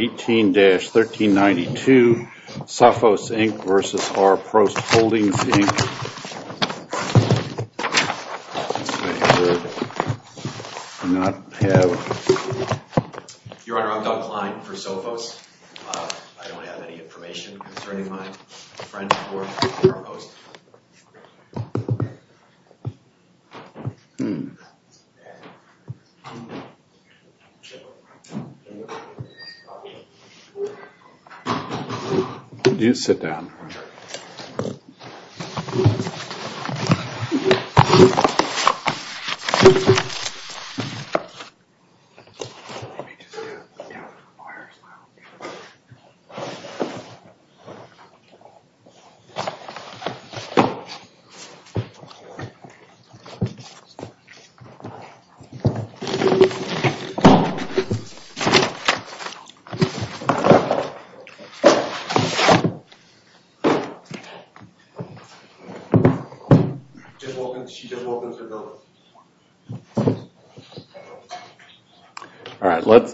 18-1392 Sophos Inc. v. R. Post Holdings Inc. Do you sit down?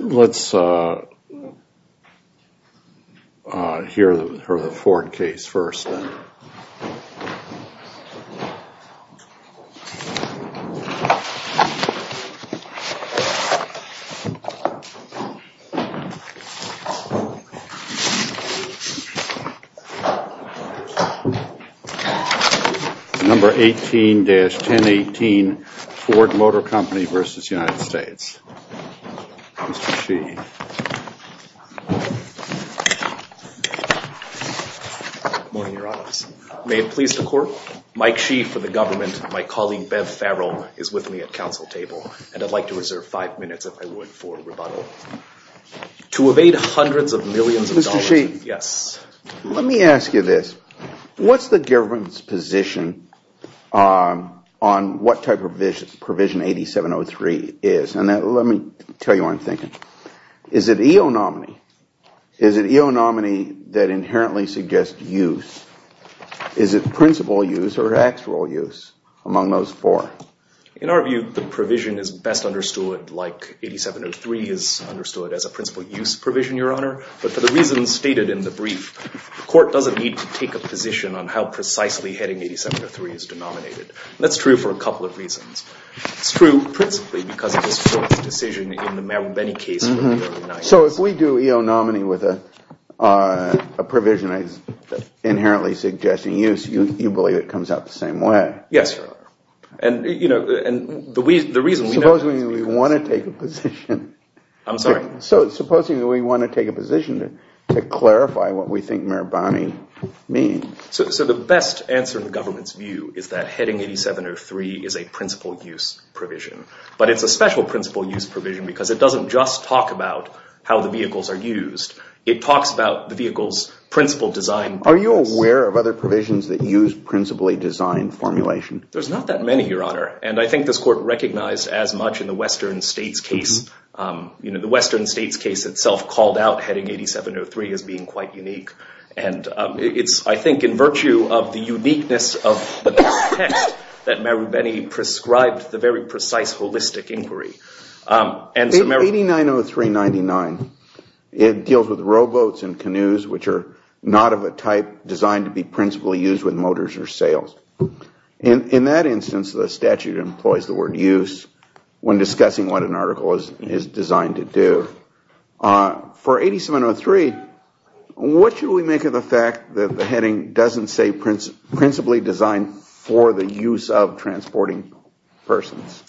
Let's hear the Ford case first. Number 18-1018 Ford Motor Company v. United States. Mr. Sheehy. Good morning, Your Honors. May it please the Court, Mike Sheehy for the government, my colleague Bev Farrell is with me at council table, and I'd like to reserve five minutes, if I would, for rebuttal. To evade hundreds of millions of dollars. Mr. Sheehy. Yes. Let me ask you this. What's the government's position on what type of provision 8703 is? And let me tell you what I'm thinking. Is it EO nominee? Is it EO nominee that inherently suggests use? Is it principal use or actual use among those four? In our view, the provision is best understood like 8703 is understood as a principal use provision, Your Honor. But for the reasons stated in the brief, the court doesn't need to take a position on how precisely heading 8703 is denominated. That's true for a couple of reasons. It's true principally because of this court's decision in the Mabini case. So if we do EO nominee with a provision that's inherently suggesting use, you believe it comes out the same way? Yes, Your Honor. And, you know, the reason we know is because— Supposing we want to take a position. I'm sorry? Supposing we want to take a position to clarify what we think Mabini means. So the best answer in the government's view is that heading 8703 is a principal use provision. But it's a special principal use provision because it doesn't just talk about how the vehicles are used. It talks about the vehicle's principal design. Are you aware of other provisions that use principally designed formulation? There's not that many, Your Honor. And I think this court recognized as much in the Western States case. You know, the Western States case itself called out heading 8703 as being quite unique. And it's, I think, in virtue of the uniqueness of the text that Mabini prescribed the very precise holistic inquiry. 8903-99, it deals with rowboats and canoes, which are not of a type designed to be principally used with motors or sails. In that instance, the statute employs the word use when discussing what an article is designed to do. For 8703, what should we make of the fact that the heading doesn't say principally designed for the use of transporting persons?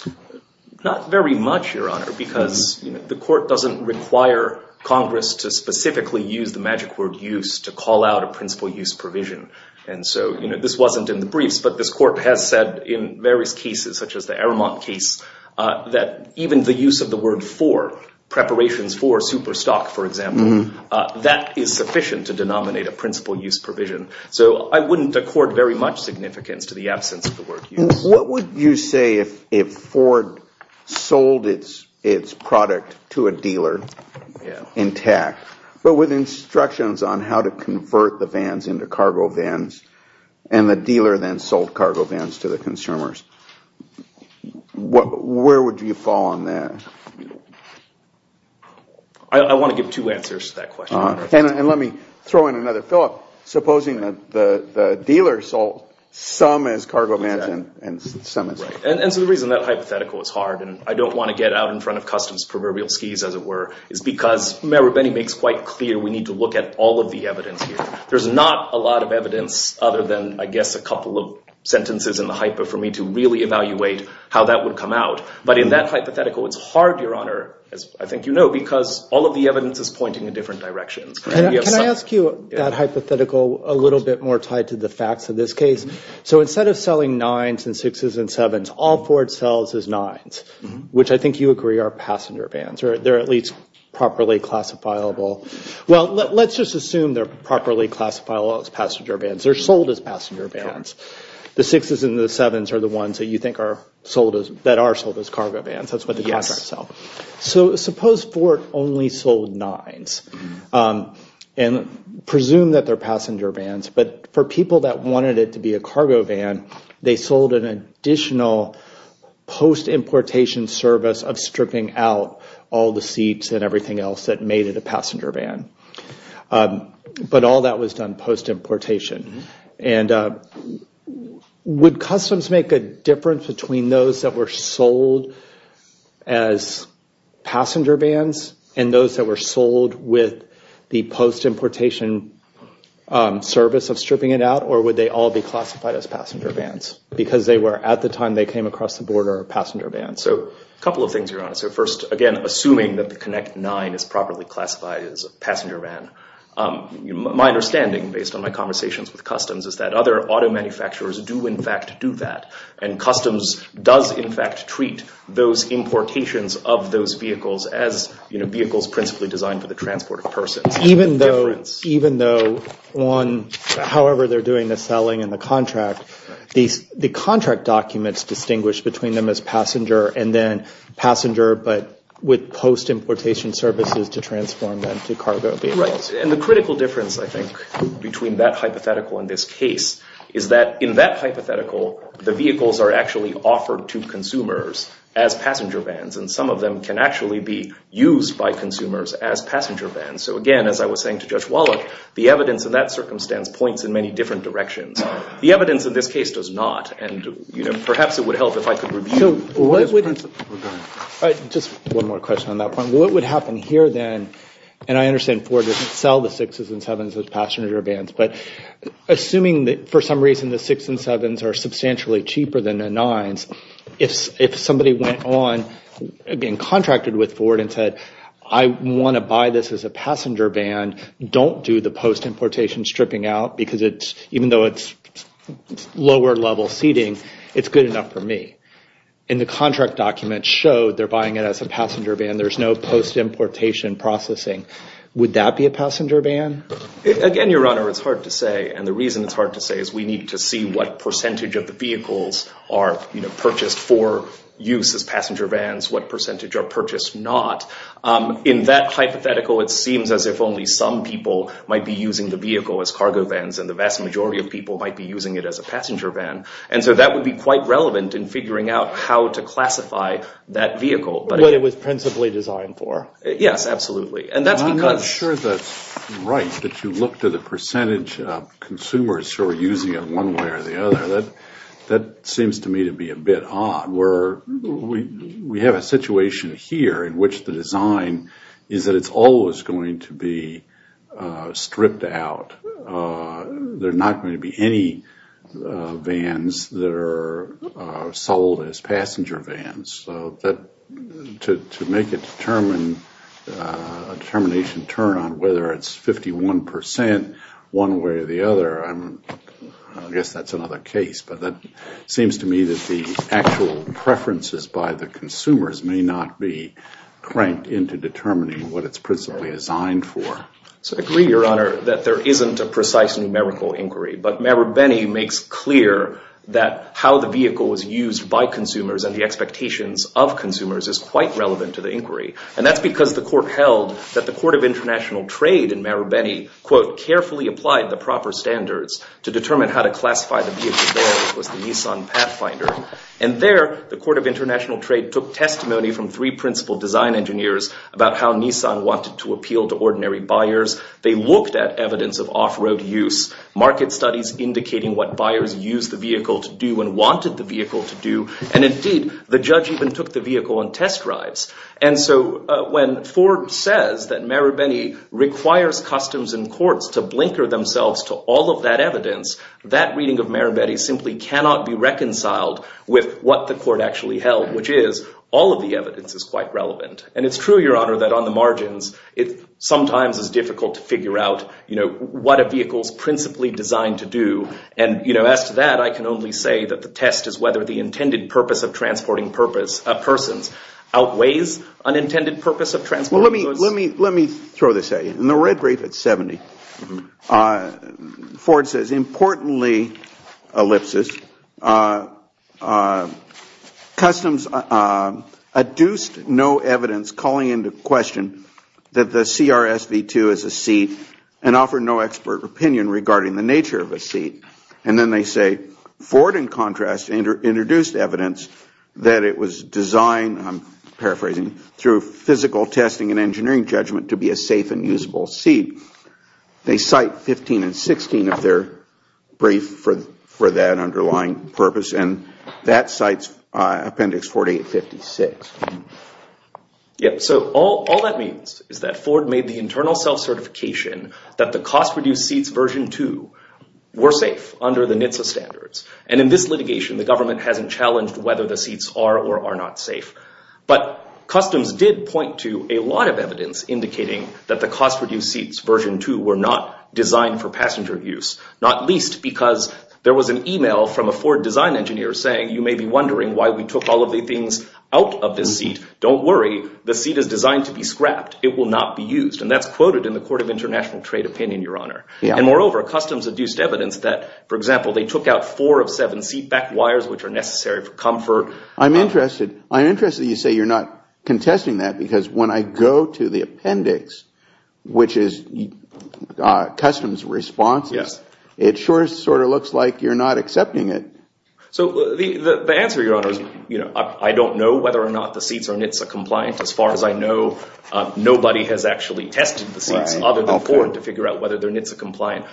Not very much, Your Honor, because the court doesn't require Congress to specifically use the magic word use to call out a principal use provision. And so, you know, this wasn't in the briefs, but this court has said in various cases, such as the Aramont case, that even the use of the word for preparations for super stock, for example, that is sufficient to denominate a principal use provision. So I wouldn't accord very much significance to the absence of the word use. What would you say if Ford sold its product to a dealer intact, but with instructions on how to convert the vans into cargo vans, and the dealer then sold cargo vans to the consumers? Where would you fall on that? I want to give two answers to that question. And let me throw in another thought. Supposing that the dealer sold some as cargo vans and some as cargo vans. And so the reason that hypothetical is hard, and I don't want to get out in front of customs proverbial skis, as it were, is because Mayor Benny makes quite clear we need to look at all of the evidence here. There's not a lot of evidence other than, I guess, a couple of sentences in the hypo for me to really evaluate how that would come out. But in that hypothetical, it's hard, Your Honor, as I think you know, because all of the evidence is pointing in different directions. Can I ask you that hypothetical a little bit more tied to the facts of this case? So instead of selling nines and sixes and sevens, all Ford sells is nines, which I think you agree are passenger vans, or they're at least properly classifiable. Well, let's just assume they're properly classifiable as passenger vans. They're sold as passenger vans. The sixes and the sevens are the ones that are sold as cargo vans. That's what the contracts sell. So suppose Ford only sold nines and presumed that they're passenger vans, but for people that wanted it to be a cargo van, they sold an additional post-importation service of stripping out all the seats and everything else that made it a passenger van. But all that was done post-importation. And would customs make a difference between those that were sold as passenger vans and those that were sold with the post-importation service of stripping it out? Or would they all be classified as passenger vans? Because they were, at the time they came across the border, passenger vans. So a couple of things here on it. So first, again, assuming that the Connect Nine is properly classified as a passenger van. My understanding, based on my conversations with customs, is that other auto manufacturers do in fact do that. And customs does in fact treat those importations of those vehicles as vehicles principally designed for the transport of persons. And even though, however they're doing the selling and the contract, the contract documents distinguish between them as passenger and then passenger, but with post-importation services to transform them to cargo vehicles. Right. And the critical difference, I think, between that hypothetical and this case is that in that hypothetical, the vehicles are actually offered to consumers as passenger vans, and some of them can actually be used by consumers as passenger vans. So again, as I was saying to Judge Wallach, the evidence in that circumstance points in many different directions. The evidence in this case does not, and perhaps it would help if I could review this principle. Just one more question on that point. What would happen here then, and I understand Ford doesn't sell the 6s and 7s as passenger vans, but assuming that for some reason the 6s and 7s are substantially cheaper than the 9s, if somebody went on and contracted with Ford and said, I want to buy this as a passenger van, don't do the post-importation stripping out because even though it's lower level seating, it's good enough for me. And the contract documents show they're buying it as a passenger van. There's no post-importation processing. Would that be a passenger van? Again, Your Honor, it's hard to say, and the reason it's hard to say is we need to see what percentage of the vehicles are purchased for use as passenger vans, what percentage are purchased not. In that hypothetical, it seems as if only some people might be using the vehicle as cargo vans, and the vast majority of people might be using it as a passenger van. And so that would be quite relevant in figuring out how to classify that vehicle. What it was principally designed for. Yes, absolutely. I'm not sure that's right, that you looked at the percentage of consumers who are using it one way or the other. That seems to me to be a bit odd. We have a situation here in which the design is that it's always going to be stripped out. There are not going to be any vans that are sold as passenger vans. So to make a determination turn on whether it's 51 percent one way or the other, I guess that's another case. But it seems to me that the actual preferences by the consumers may not be cranked into determining what it's principally designed for. I agree, Your Honor, that there isn't a precise numerical inquiry. But Marabeni makes clear that how the vehicle was used by consumers and the expectations of consumers is quite relevant to the inquiry. And that's because the court held that the Court of International Trade in Marabeni, quote, carefully applied the proper standards to determine how to classify the vehicle as the Nissan Pathfinder. And there, the Court of International Trade took testimony from three principal design engineers about how Nissan wanted to appeal to ordinary buyers. They looked at evidence of off-road use, market studies indicating what buyers used the vehicle to do and wanted the vehicle to do. And indeed, the judge even took the vehicle on test drives. And so when Ford says that Marabeni requires customs and courts to blinker themselves to all of that evidence, that reading of Marabeni simply cannot be reconciled with what the court actually held, which is all of the evidence is quite relevant. And it's true, Your Honor, that on the margins, it sometimes is difficult to figure out, you know, what a vehicle is principally designed to do. And, you know, as to that, I can only say that the test is whether the intended purpose of transporting persons outweighs unintended purpose of transporting those. Let me throw this at you. In the red brief at 70, Ford says, importantly, ellipsis, customs adduced no evidence calling into question that the CRS V2 is a seat and offered no expert opinion regarding the nature of a seat. And then they say, Ford, in contrast, introduced evidence that it was designed, I'm paraphrasing, through physical testing and engineering judgment to be a safe and usable seat. They cite 15 and 16 of their brief for that underlying purpose. And that cites Appendix 4856. Yep. So all that means is that Ford made the internal self-certification that the cost-reduced seats version 2 were safe under the NHTSA standards. And in this litigation, the government hasn't challenged whether the seats are or are not safe. But customs did point to a lot of evidence indicating that the cost-reduced seats version 2 were not designed for passenger use, not least because there was an email from a Ford design engineer saying, you may be wondering why we took all of the things out of this seat. Don't worry. The seat is designed to be scrapped. It will not be used. And that's quoted in the Court of International Trade opinion, Your Honor. And moreover, customs adduced evidence that, for example, they took out four of seven seat back wires, which are necessary for comfort. I'm interested that you say you're not contesting that because when I go to the appendix, which is customs responses, it sure sort of looks like you're not accepting it. So the answer, Your Honor, is I don't know whether or not the seats are NHTSA compliant. As far as I know, nobody has actually tested the seats other than Ford to figure out whether they're NHTSA compliant.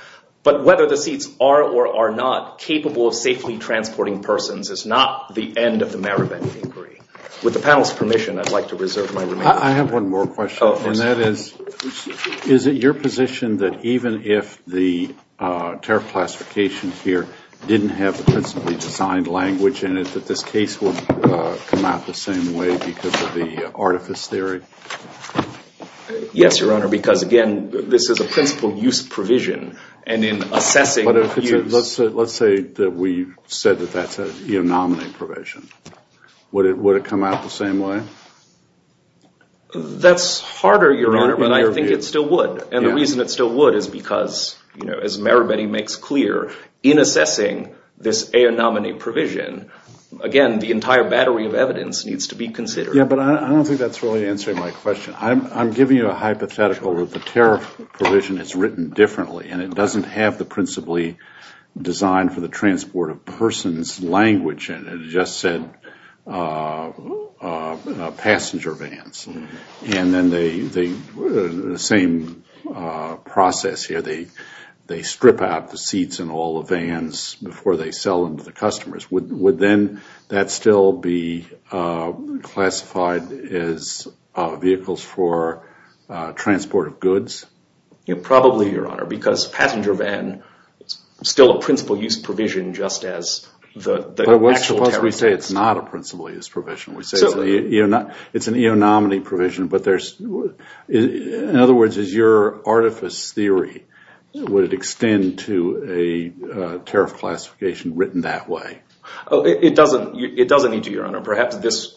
But whether the seats are or are not capable of safely transporting persons is not the end of the Maribyrney inquiry. With the panel's permission, I'd like to reserve my remaining time. I have one more question. Oh, of course. And that is, is it your position that even if the tariff classification here didn't have the principally designed language in it, that this case would come out the same way because of the artifice theory? Yes, Your Honor. Because, again, this is a principal use provision. And in assessing... Let's say that we said that that's a eonominate provision. Would it come out the same way? That's harder, Your Honor, but I think it still would. And the reason it still would is because, you know, as Maribyrney makes clear, in assessing this eonominate provision, again, the entire battery of evidence needs to be considered. Yeah, but I don't think that's really answering my question. I'm giving you a hypothetical where the tariff provision is written differently and it doesn't have the principally designed for the transport of persons language in it. It just said passenger vans. And then the same process here. They strip out the seats in all the vans before they sell them to the customers. Would then that still be classified as vehicles for transport of goods? Probably, Your Honor, because passenger van is still a principal use provision just as the actual tariff is. But what if we say it's not a principal use provision? We say it's an eonominate provision, but there's... In other words, is your artifice theory, would it extend to a tariff classification written that way? It doesn't need to, Your Honor. Perhaps this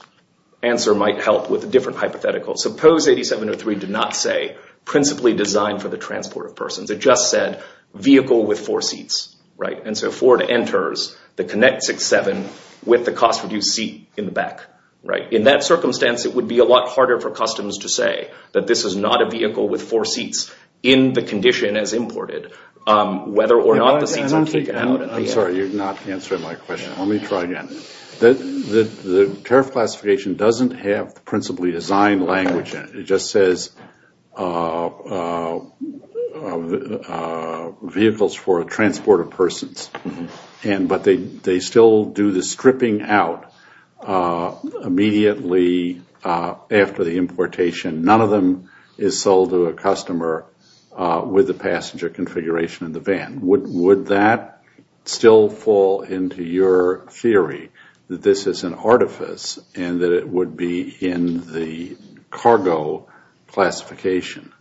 answer might help with a different hypothetical. Suppose 8703 did not say principally designed for the transport of persons. It just said vehicle with four seats, right? And so Ford enters the Connect 67 with the cost-reduced seat in the back, right? In that circumstance, it would be a lot harder for customs to say that this is not a vehicle with four seats in the condition as imported. Whether or not the seats are taken out... I'm sorry, you're not answering my question. Let me try again. The tariff classification doesn't have the principally designed language in it. It just says vehicles for transport of persons. But they still do the stripping out immediately after the importation. None of them is sold to a customer with the passenger configuration in the van. Would that still fall into your theory that this is an artifice and that it would be in the cargo classification?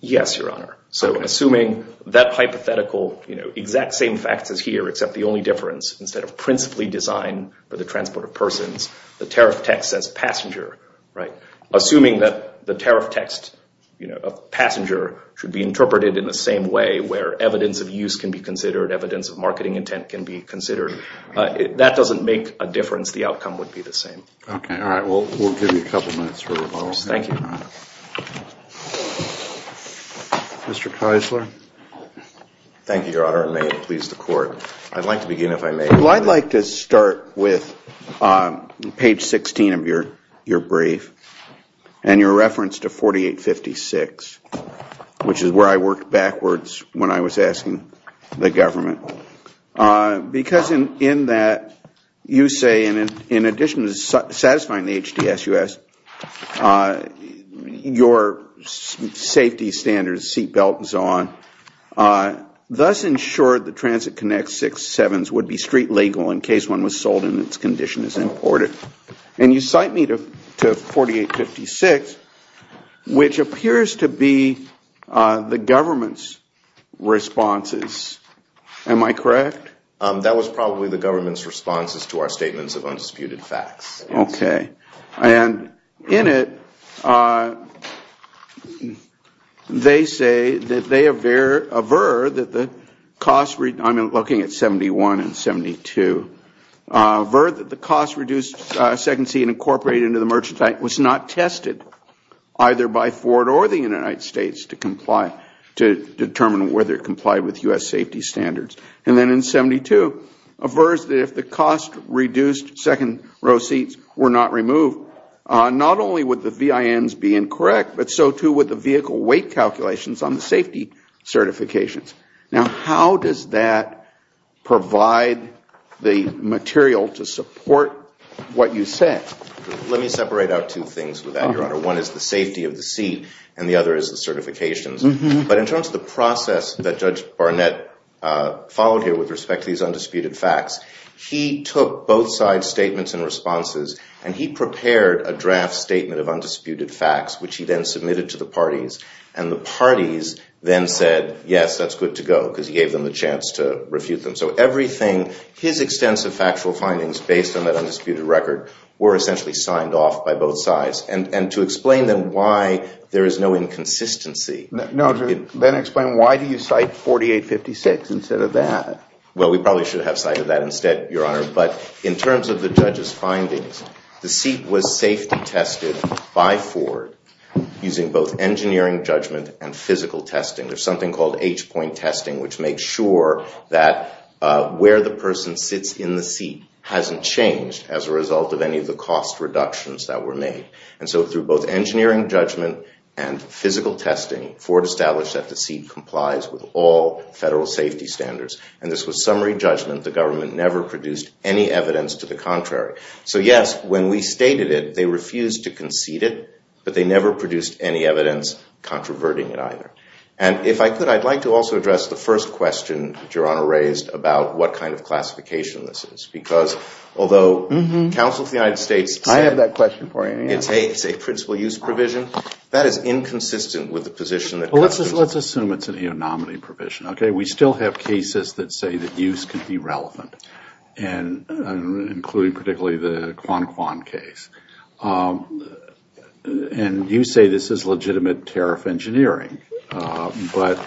Yes, Your Honor. So assuming that hypothetical exact same facts as here, except the only difference, instead of principally designed for the transport of persons, the tariff text says passenger, right? Assuming that the tariff text of passenger should be interpreted in the same way where evidence of use can be considered, evidence of marketing intent can be considered, that doesn't make a difference. The outcome would be the same. Okay, all right. We'll give you a couple minutes for rebuttal. Thank you, Your Honor. Mr. Keisler? Thank you, Your Honor. May it please the Court. I'd like to begin if I may. Well, I'd like to start with page 16 of your brief and your reference to 4856, which is where I worked backwards when I was asking the government. Because in that, you say, in addition to satisfying the HDSUS, your safety standards, seat belt and so on, thus ensured the Transit Connect 6-7s would be street legal in case one was sold in its condition as imported. And you cite me to 4856, which appears to be the government's responses. Am I correct? That was probably the government's responses to our statements of undisputed facts. Okay. And in it, they say that they aver that the cost, I'm looking at 71 and 72, avert that the cost-reduced second seat incorporated into the merchandise was not tested, either by Ford or the United States to comply, to determine whether it complied with U.S. safety standards. And then in 72, averse that if the cost-reduced second row seats were not removed, not only would the VINs be incorrect, but so too would the vehicle weight calculations on the safety certifications. Now, how does that provide the material to support what you said? Let me separate out two things with that, Your Honor. One is the safety of the seat and the other is the certifications. But in terms of the process that Judge Barnett followed here with respect to these undisputed facts, he took both sides' statements and responses and he prepared a draft statement of undisputed facts, which he then submitted to the parties, and the parties then said, yes, that's good to go, because he gave them the chance to refute them. So everything, his extensive factual findings based on that undisputed record, were essentially signed off by both sides. And to explain then why there is no inconsistency. No, then explain why do you cite 4856 instead of that? Well, we probably should have cited that instead, Your Honor. But in terms of the judge's findings, the seat was safety tested by Ford using both engineering judgment and physical testing. There's something called H-point testing, which makes sure that where the person sits in the seat hasn't changed as a result of any of the cost reductions that were made. And so through both engineering judgment and physical testing, Ford established that the seat complies with all federal safety standards. And this was summary judgment. The government never produced any evidence to the contrary. So, yes, when we stated it, they refused to concede it, but they never produced any evidence controverting it either. And if I could, I'd like to also address the first question Your Honor raised about what kind of classification this is. Because although the Council of the United States... A, it's a principal use provision. That is inconsistent with the position that... Well, let's assume it's a nominee provision, okay? We still have cases that say that use could be relevant, including particularly the Quan Quan case. And you say this is legitimate tariff engineering. But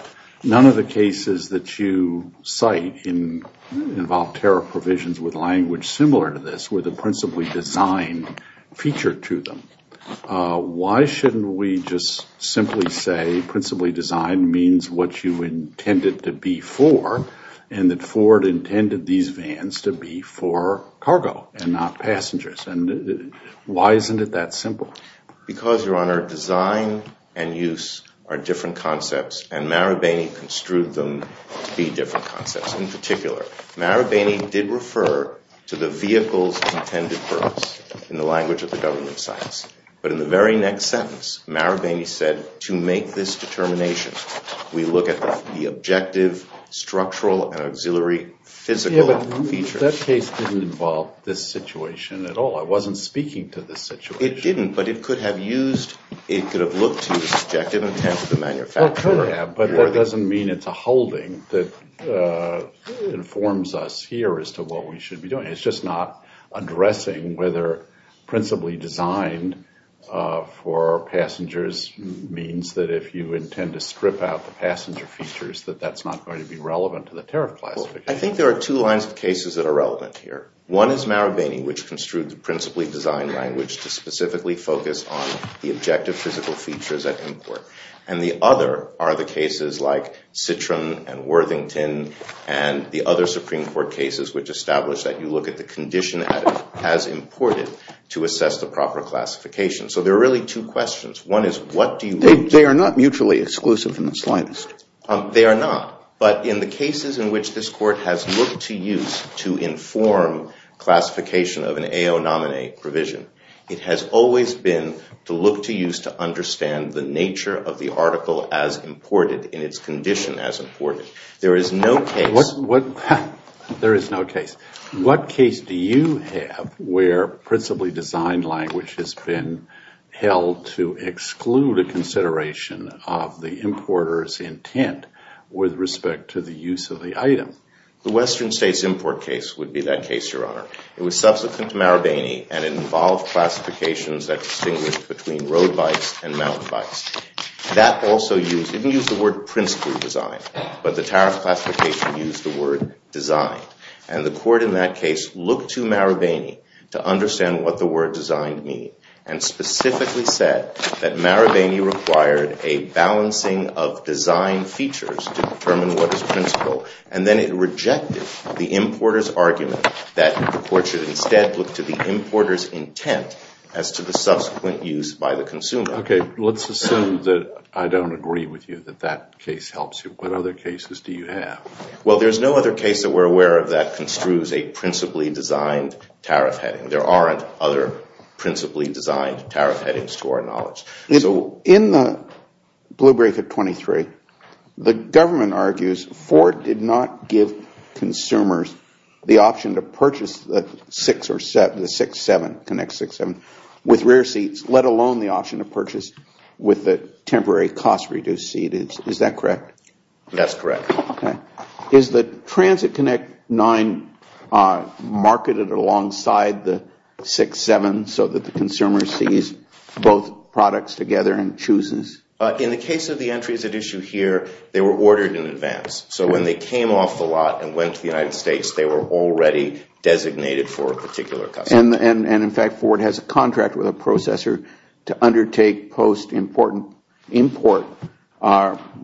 none of the cases that you cite involve tariff provisions with language similar to this or the principally designed feature to them. Why shouldn't we just simply say principally designed means what you intended to be for and that Ford intended these vans to be for cargo and not passengers? And why isn't it that simple? Because, Your Honor, design and use are different concepts, and Marabeni construed them to be different concepts. In this case in particular, Marabeni did refer to the vehicles intended for us in the language of the government of science. But in the very next sentence, Marabeni said, to make this determination, we look at the objective, structural, and auxiliary physical features. Yeah, but that case didn't involve this situation at all. I wasn't speaking to this situation. It didn't, but it could have looked to the subjective intent of the manufacturer. Well, it could have, but that doesn't mean it's a holding that informs us here as to what we should be doing. It's just not addressing whether principally designed for passengers means that if you intend to strip out the passenger features, that that's not going to be relevant to the tariff classification. I think there are two lines of cases that are relevant here. One is Marabeni, which construed the principally designed language to specifically focus on the objective physical features at import. And the other are the cases like Citroen and Worthington and the other Supreme Court cases which establish that you look at the condition as imported to assess the proper classification. So there are really two questions. One is what do you look to? They are not mutually exclusive in the slightest. They are not, but in the cases in which this court has looked to use to inform classification of an AO nominee provision, it has always been to look to use to understand the nature of the article as imported in its condition as imported. There is no case. There is no case. What case do you have where principally designed language has been held to exclude a consideration of the importer's intent with respect to the use of the item? The Western States import case would be that case, Your Honor. It was subsequent to Marabeni, and it involved classifications that distinguished between road bikes and mountain bikes. That also used, it didn't use the word principally designed, but the tariff classification used the word designed. And the court in that case looked to Marabeni to understand what the word designed mean and specifically said that Marabeni required a balancing of design features to determine what is principal, and then it rejected the importer's argument that the court should instead look to the importer's intent as to the subsequent use by the consumer. Okay. Let's assume that I don't agree with you, that that case helps you. What other cases do you have? Well, there's no other case that we're aware of that construes a principally designed tariff heading. There aren't other principally designed tariff headings to our knowledge. In the Blue Brick at 23, the government argues Ford did not give consumers the option to purchase the 6 or 7, the 6-7, Connect 6-7, with rear seats, let alone the option to purchase with a temporary cost-reduced seat. Is that correct? That's correct. Is the Transit Connect 9 marketed alongside the 6-7 so that the consumer sees both products together and chooses? In the case of the entries at issue here, they were ordered in advance. So when they came off the lot and went to the United States, they were already designated for a particular customer. And, in fact, Ford has a contract with a processor to undertake post-import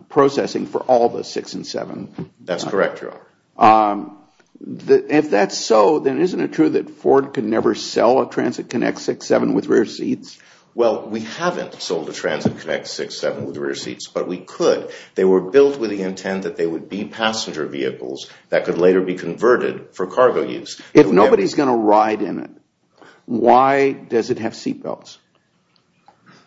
processing for all the 6 and 7. That's correct, Your Honor. If that's so, then isn't it true that Ford could never sell a Transit Connect 6-7 with rear seats? Well, we haven't sold a Transit Connect 6-7 with rear seats, but we could. They were built with the intent that they would be passenger vehicles that could later be converted for cargo use. If nobody's going to ride in it, why does it have seat belts?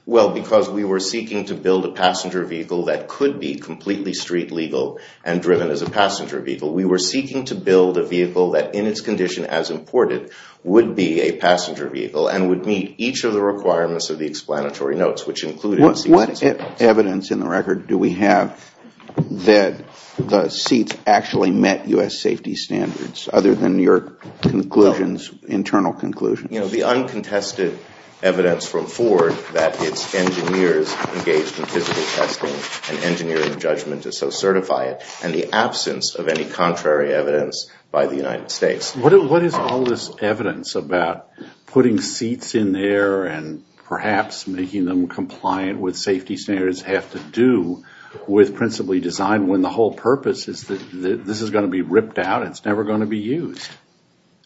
Well, because we were seeking to build a passenger vehicle that could be completely street legal and driven as a passenger vehicle. We were seeking to build a vehicle that, in its condition as imported, would be a passenger vehicle and would meet each of the requirements of the explanatory notes, which included seat belts. What evidence in the record do we have that the seats actually met U.S. safety standards other than your conclusions, internal conclusions? The uncontested evidence from Ford that its engineers engaged in physical testing and engineering judgment to so certify it, and the absence of any contrary evidence by the United States. What is all this evidence about putting seats in there and perhaps making them compliant with safety standards have to do with principally designed when the whole purpose is that this is going to be ripped out and it's never going to be used?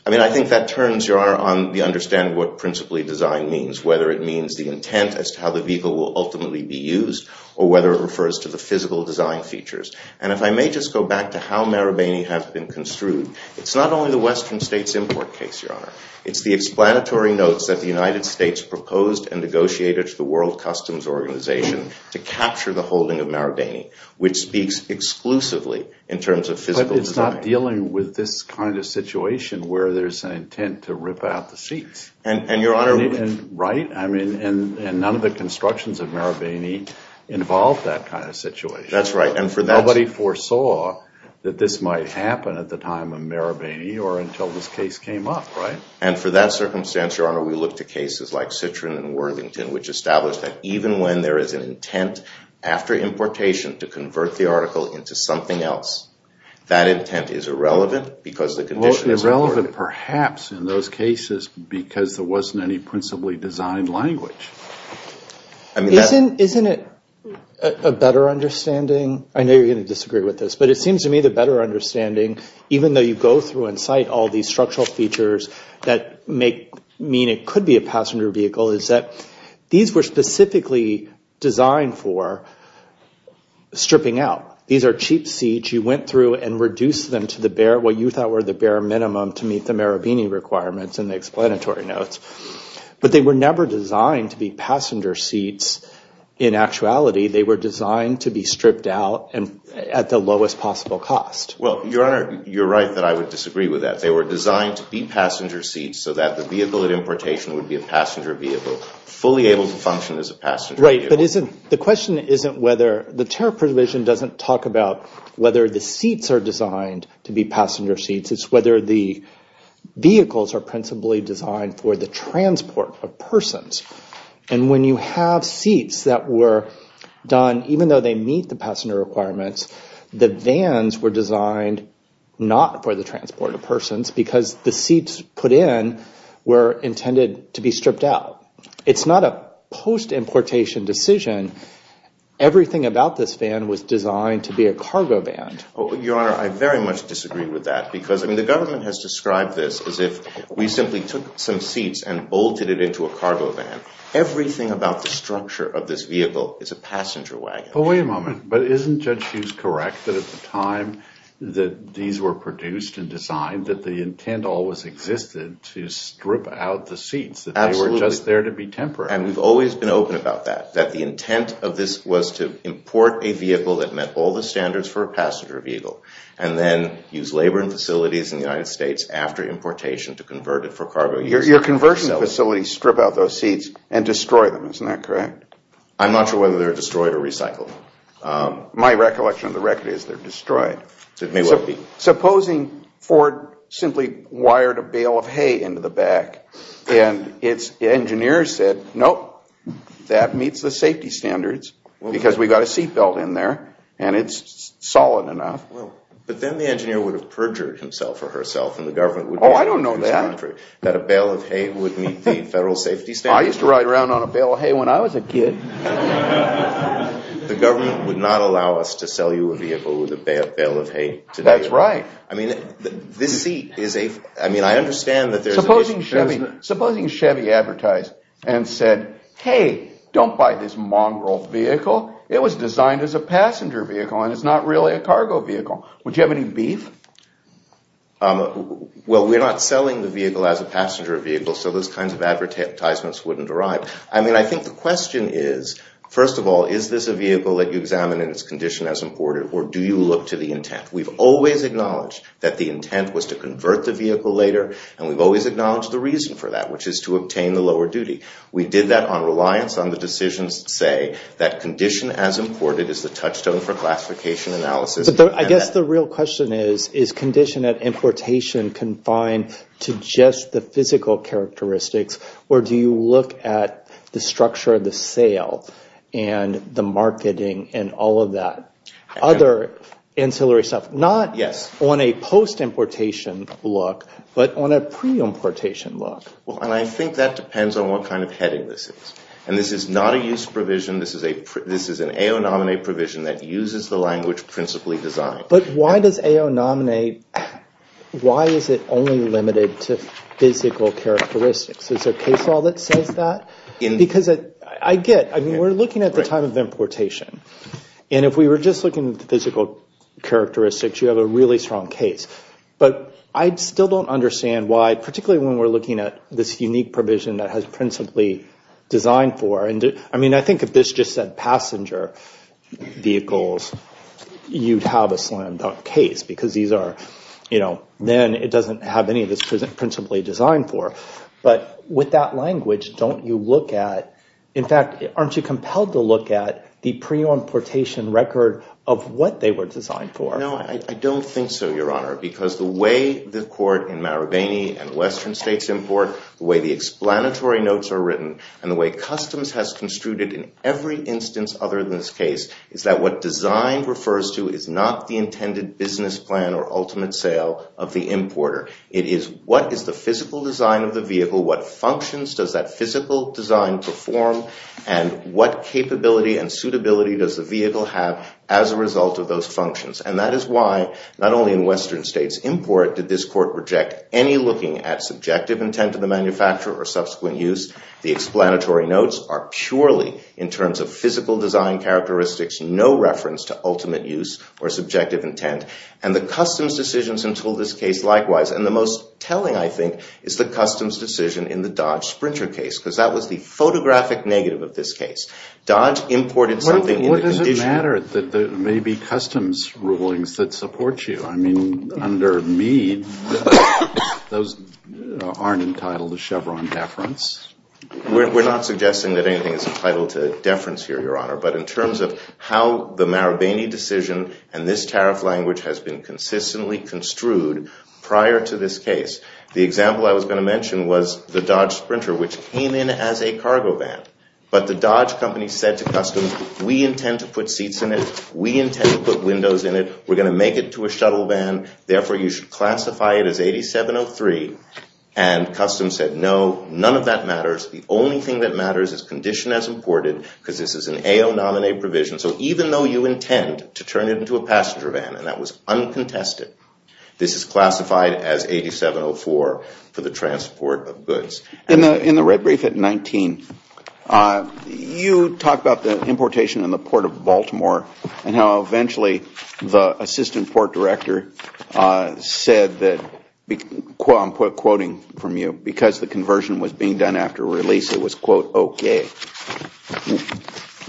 I mean, I think that turns, Your Honor, on the understanding of what principally designed means, whether it means the intent as to how the vehicle will ultimately be used or whether it refers to the physical design features. And if I may just go back to how Marabini has been construed, it's not only the Western States import case, Your Honor. It's the explanatory notes that the United States proposed and negotiated to the World Customs Organization to capture the holding of Marabini, which speaks exclusively in terms of physical design. But it's not dealing with this kind of situation where there's an intent to rip out the seats. Right. I mean, and none of the constructions of Marabini involved that kind of situation. That's right. Nobody foresaw that this might happen at the time of Marabini or until this case came up, right? And for that circumstance, Your Honor, we look to cases like Citroen and Worthington, which established that even when there is an intent after importation to convert the article into something else, that intent is irrelevant because the condition is important. It's irrelevant perhaps in those cases because there wasn't any principally designed language. Isn't it a better understanding? I know you're going to disagree with this, but it seems to me the better understanding, even though you go through and cite all these structural features that make it mean it could be a passenger vehicle, is that these were specifically designed for stripping out. These are cheap seats. You went through and reduced them to what you thought were the bare minimum to meet the Marabini requirements and the explanatory notes, but they were never designed to be passenger seats in actuality. They were designed to be stripped out at the lowest possible cost. Well, Your Honor, you're right that I would disagree with that. They were designed to be passenger seats so that the vehicle at importation would be a passenger vehicle, fully able to function as a passenger vehicle. The question isn't whether the tariff provision doesn't talk about whether the seats are designed to be passenger seats. It's whether the vehicles are principally designed for the transport of persons. And when you have seats that were done, even though they meet the passenger requirements, the vans were designed not for the transport of persons because the seats put in were intended to be stripped out. It's not a post-importation decision. Everything about this van was designed to be a cargo van. Your Honor, I very much disagree with that because the government has described this as if we simply took some seats and bolted it into a cargo van. Everything about the structure of this vehicle is a passenger wagon. Well, wait a moment. But isn't Judge Hughes correct that at the time that these were produced and designed that the intent always existed to strip out the seats? Absolutely. That they were just there to be temporary. And we've always been open about that, that the intent of this was to import a vehicle that met all the standards for a passenger vehicle and then use labor and facilities in the United States after importation to convert it for cargo. Your conversion facilities strip out those seats and destroy them. Isn't that correct? I'm not sure whether they're destroyed or recycled. My recollection of the record is they're destroyed. It may well be. Supposing Ford simply wired a bale of hay into the back and its engineers said, nope, that meets the safety standards because we've got a seat belt in there and it's solid enough. But then the engineer would have perjured himself or herself and the government would be confused. Oh, I don't know that. That a bale of hay would meet the federal safety standards. I used to ride around on a bale of hay when I was a kid. The government would not allow us to sell you a vehicle with a bale of hay today. That's right. I mean, this seat is a, I mean, I understand that there's a Supposing Chevy advertised and said, hey, don't buy this mongrel vehicle. It was designed as a passenger vehicle and it's not really a cargo vehicle. Would you have any beef? Well, we're not selling the vehicle as a passenger vehicle, so those kinds of advertisements wouldn't arrive. I mean, I think the question is, first of all, is this a vehicle that you examine in its condition as imported or do you look to the intent? We've always acknowledged that the intent was to convert the vehicle later and we've always acknowledged the reason for that, which is to obtain the lower duty. We did that on reliance on the decisions to say that condition as imported is the touchstone for classification analysis. I guess the real question is, is condition at importation confined to just the physical characteristics or do you look at the structure of the sale and the marketing and all of that? Other ancillary stuff, not on a post-importation look, but on a pre-importation look. Well, and I think that depends on what kind of heading this is. And this is not a use provision. This is an AO nominate provision that uses the language principally designed. But why does AO nominate, why is it only limited to physical characteristics? Is there a case law that says that? Because I get, I mean, we're looking at the time of importation. And if we were just looking at the physical characteristics, you have a really strong case. But I still don't understand why, particularly when we're looking at this unique provision that has principally designed for. I mean, I think if this just said passenger vehicles, you'd have a slam-dunk case because these are, you know, then it doesn't have any of this principally designed for. But with that language, don't you look at, in fact, aren't you compelled to look at the pre-importation record of what they were designed for? No, I don't think so, Your Honor. Because the way the court in Marabini and Western states import, the way the explanatory notes are written, and the way customs has construed it in every instance other than this case, is that what design refers to is not the intended business plan or ultimate sale of the importer. It is what is the physical design of the vehicle, what functions does that physical design perform, and what capability and suitability does the vehicle have as a result of those functions. And that is why not only in Western states import did this court reject any looking at subjective intent of the manufacturer or subsequent use. The explanatory notes are purely in terms of physical design characteristics, no reference to ultimate use or subjective intent. And the customs decisions entail this case likewise. And the most telling, I think, is the customs decision in the Dodge Sprinter case, because that was the photographic negative of this case. Dodge imported something in the condition... What does it matter that there may be customs rulings that support you? I mean, under Meade, those aren't entitled to Chevron deference. We're not suggesting that anything is entitled to deference here, Your Honor. But in terms of how the Marabini decision and this tariff language has been consistently construed prior to this case, the example I was going to mention was the Dodge Sprinter, which came in as a cargo van. But the Dodge company said to customs, we intend to put seats in it. We intend to put windows in it. We're going to make it to a shuttle van. Therefore, you should classify it as 8703. And customs said, no, none of that matters. The only thing that matters is condition as imported, because this is an AO nominee provision. So even though you intend to turn it into a passenger van, and that was uncontested, this is classified as 8704 for the transport of goods. In the red brief at 19, you talk about the importation in the Port of Baltimore and how eventually the assistant port director said that, I'm quoting from you, because the conversion was being done after release, it was, quote, okay.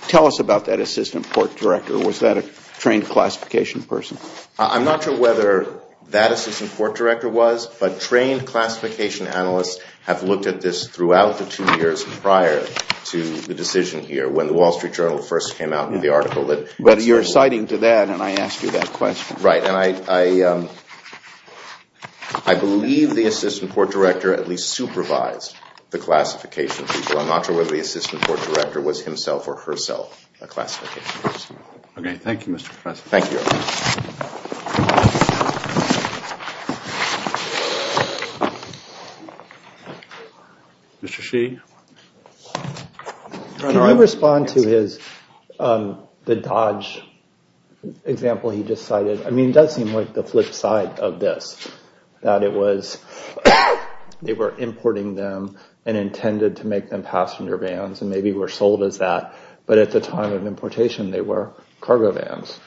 Tell us about that assistant port director. Was that a trained classification person? I'm not sure whether that assistant port director was, but trained classification analysts have looked at this throughout the two years prior to the decision here, when the Wall Street Journal first came out with the article. But you're citing to that, and I asked you that question. Right, and I believe the assistant port director at least supervised the classification people. I'm not sure whether the assistant port director was himself or herself a classification person. Okay, thank you, Mr. Professor. Thank you. Mr. Shi? Can you respond to the Dodge example he just cited? I mean, it does seem like the flip side of this, that it was they were importing them and intended to make them passenger vans, and maybe were sold as that, but at the time of importation they were cargo vans.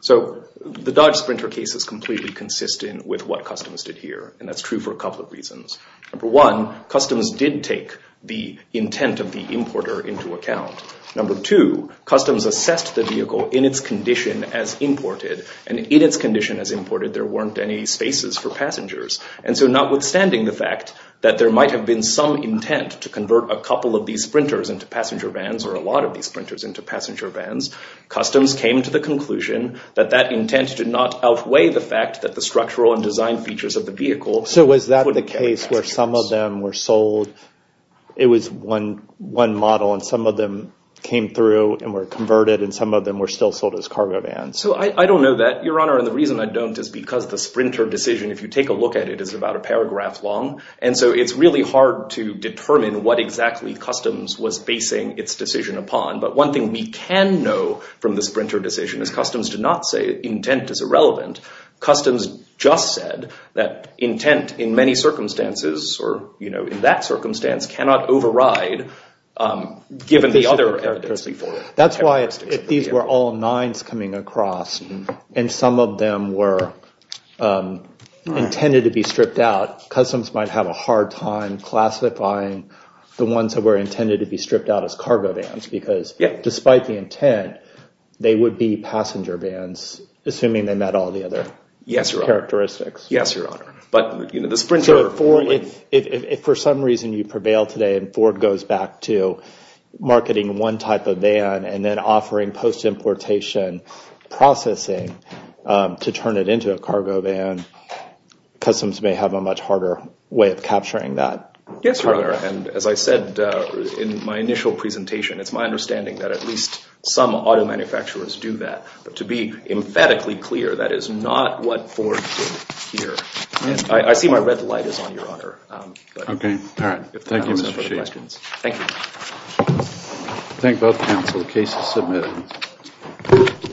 So the Dodge Sprinter case is completely consistent with what Customs did here, and that's true for a couple of reasons. Number one, Customs did take the intent of the importer into account. Number two, Customs assessed the vehicle in its condition as imported, and in its condition as imported there weren't any spaces for passengers. And so notwithstanding the fact that there might have been some intent to convert a couple of these Sprinters into passenger vans, or a lot of these Sprinters into passenger vans, Customs came to the conclusion that that intent did not outweigh the fact that the structural and design features of the vehicle wouldn't carry passengers. So was that the case where some of them were sold, it was one model, and some of them came through and were converted, and some of them were still sold as cargo vans? So I don't know that, Your Honor, and the reason I don't is because the Sprinter decision, if you take a look at it, is about a paragraph long, and so it's really hard to determine what exactly Customs was basing its decision upon. But one thing we can know from the Sprinter decision is Customs did not say intent is irrelevant. Customs just said that intent in many circumstances, or, you know, in that circumstance, cannot override, given the other characteristics. That's why these were all nines coming across, and some of them were intended to be stripped out. Customs might have a hard time classifying the ones that were intended to be passenger vans, assuming they met all the other characteristics. Yes, Your Honor. But, you know, the Sprinter. If for some reason you prevail today and Ford goes back to marketing one type of van and then offering post-importation processing to turn it into a cargo van, Customs may have a much harder way of capturing that. Yes, Your Honor, and as I said in my initial presentation, it's my understanding that at least some auto manufacturers do that. But to be emphatically clear, that is not what Ford did here. I see my red light is on, Your Honor. Okay. All right. Thank you, Mr. Sheehy. Thank you. Thank both counsel. The case is submitted.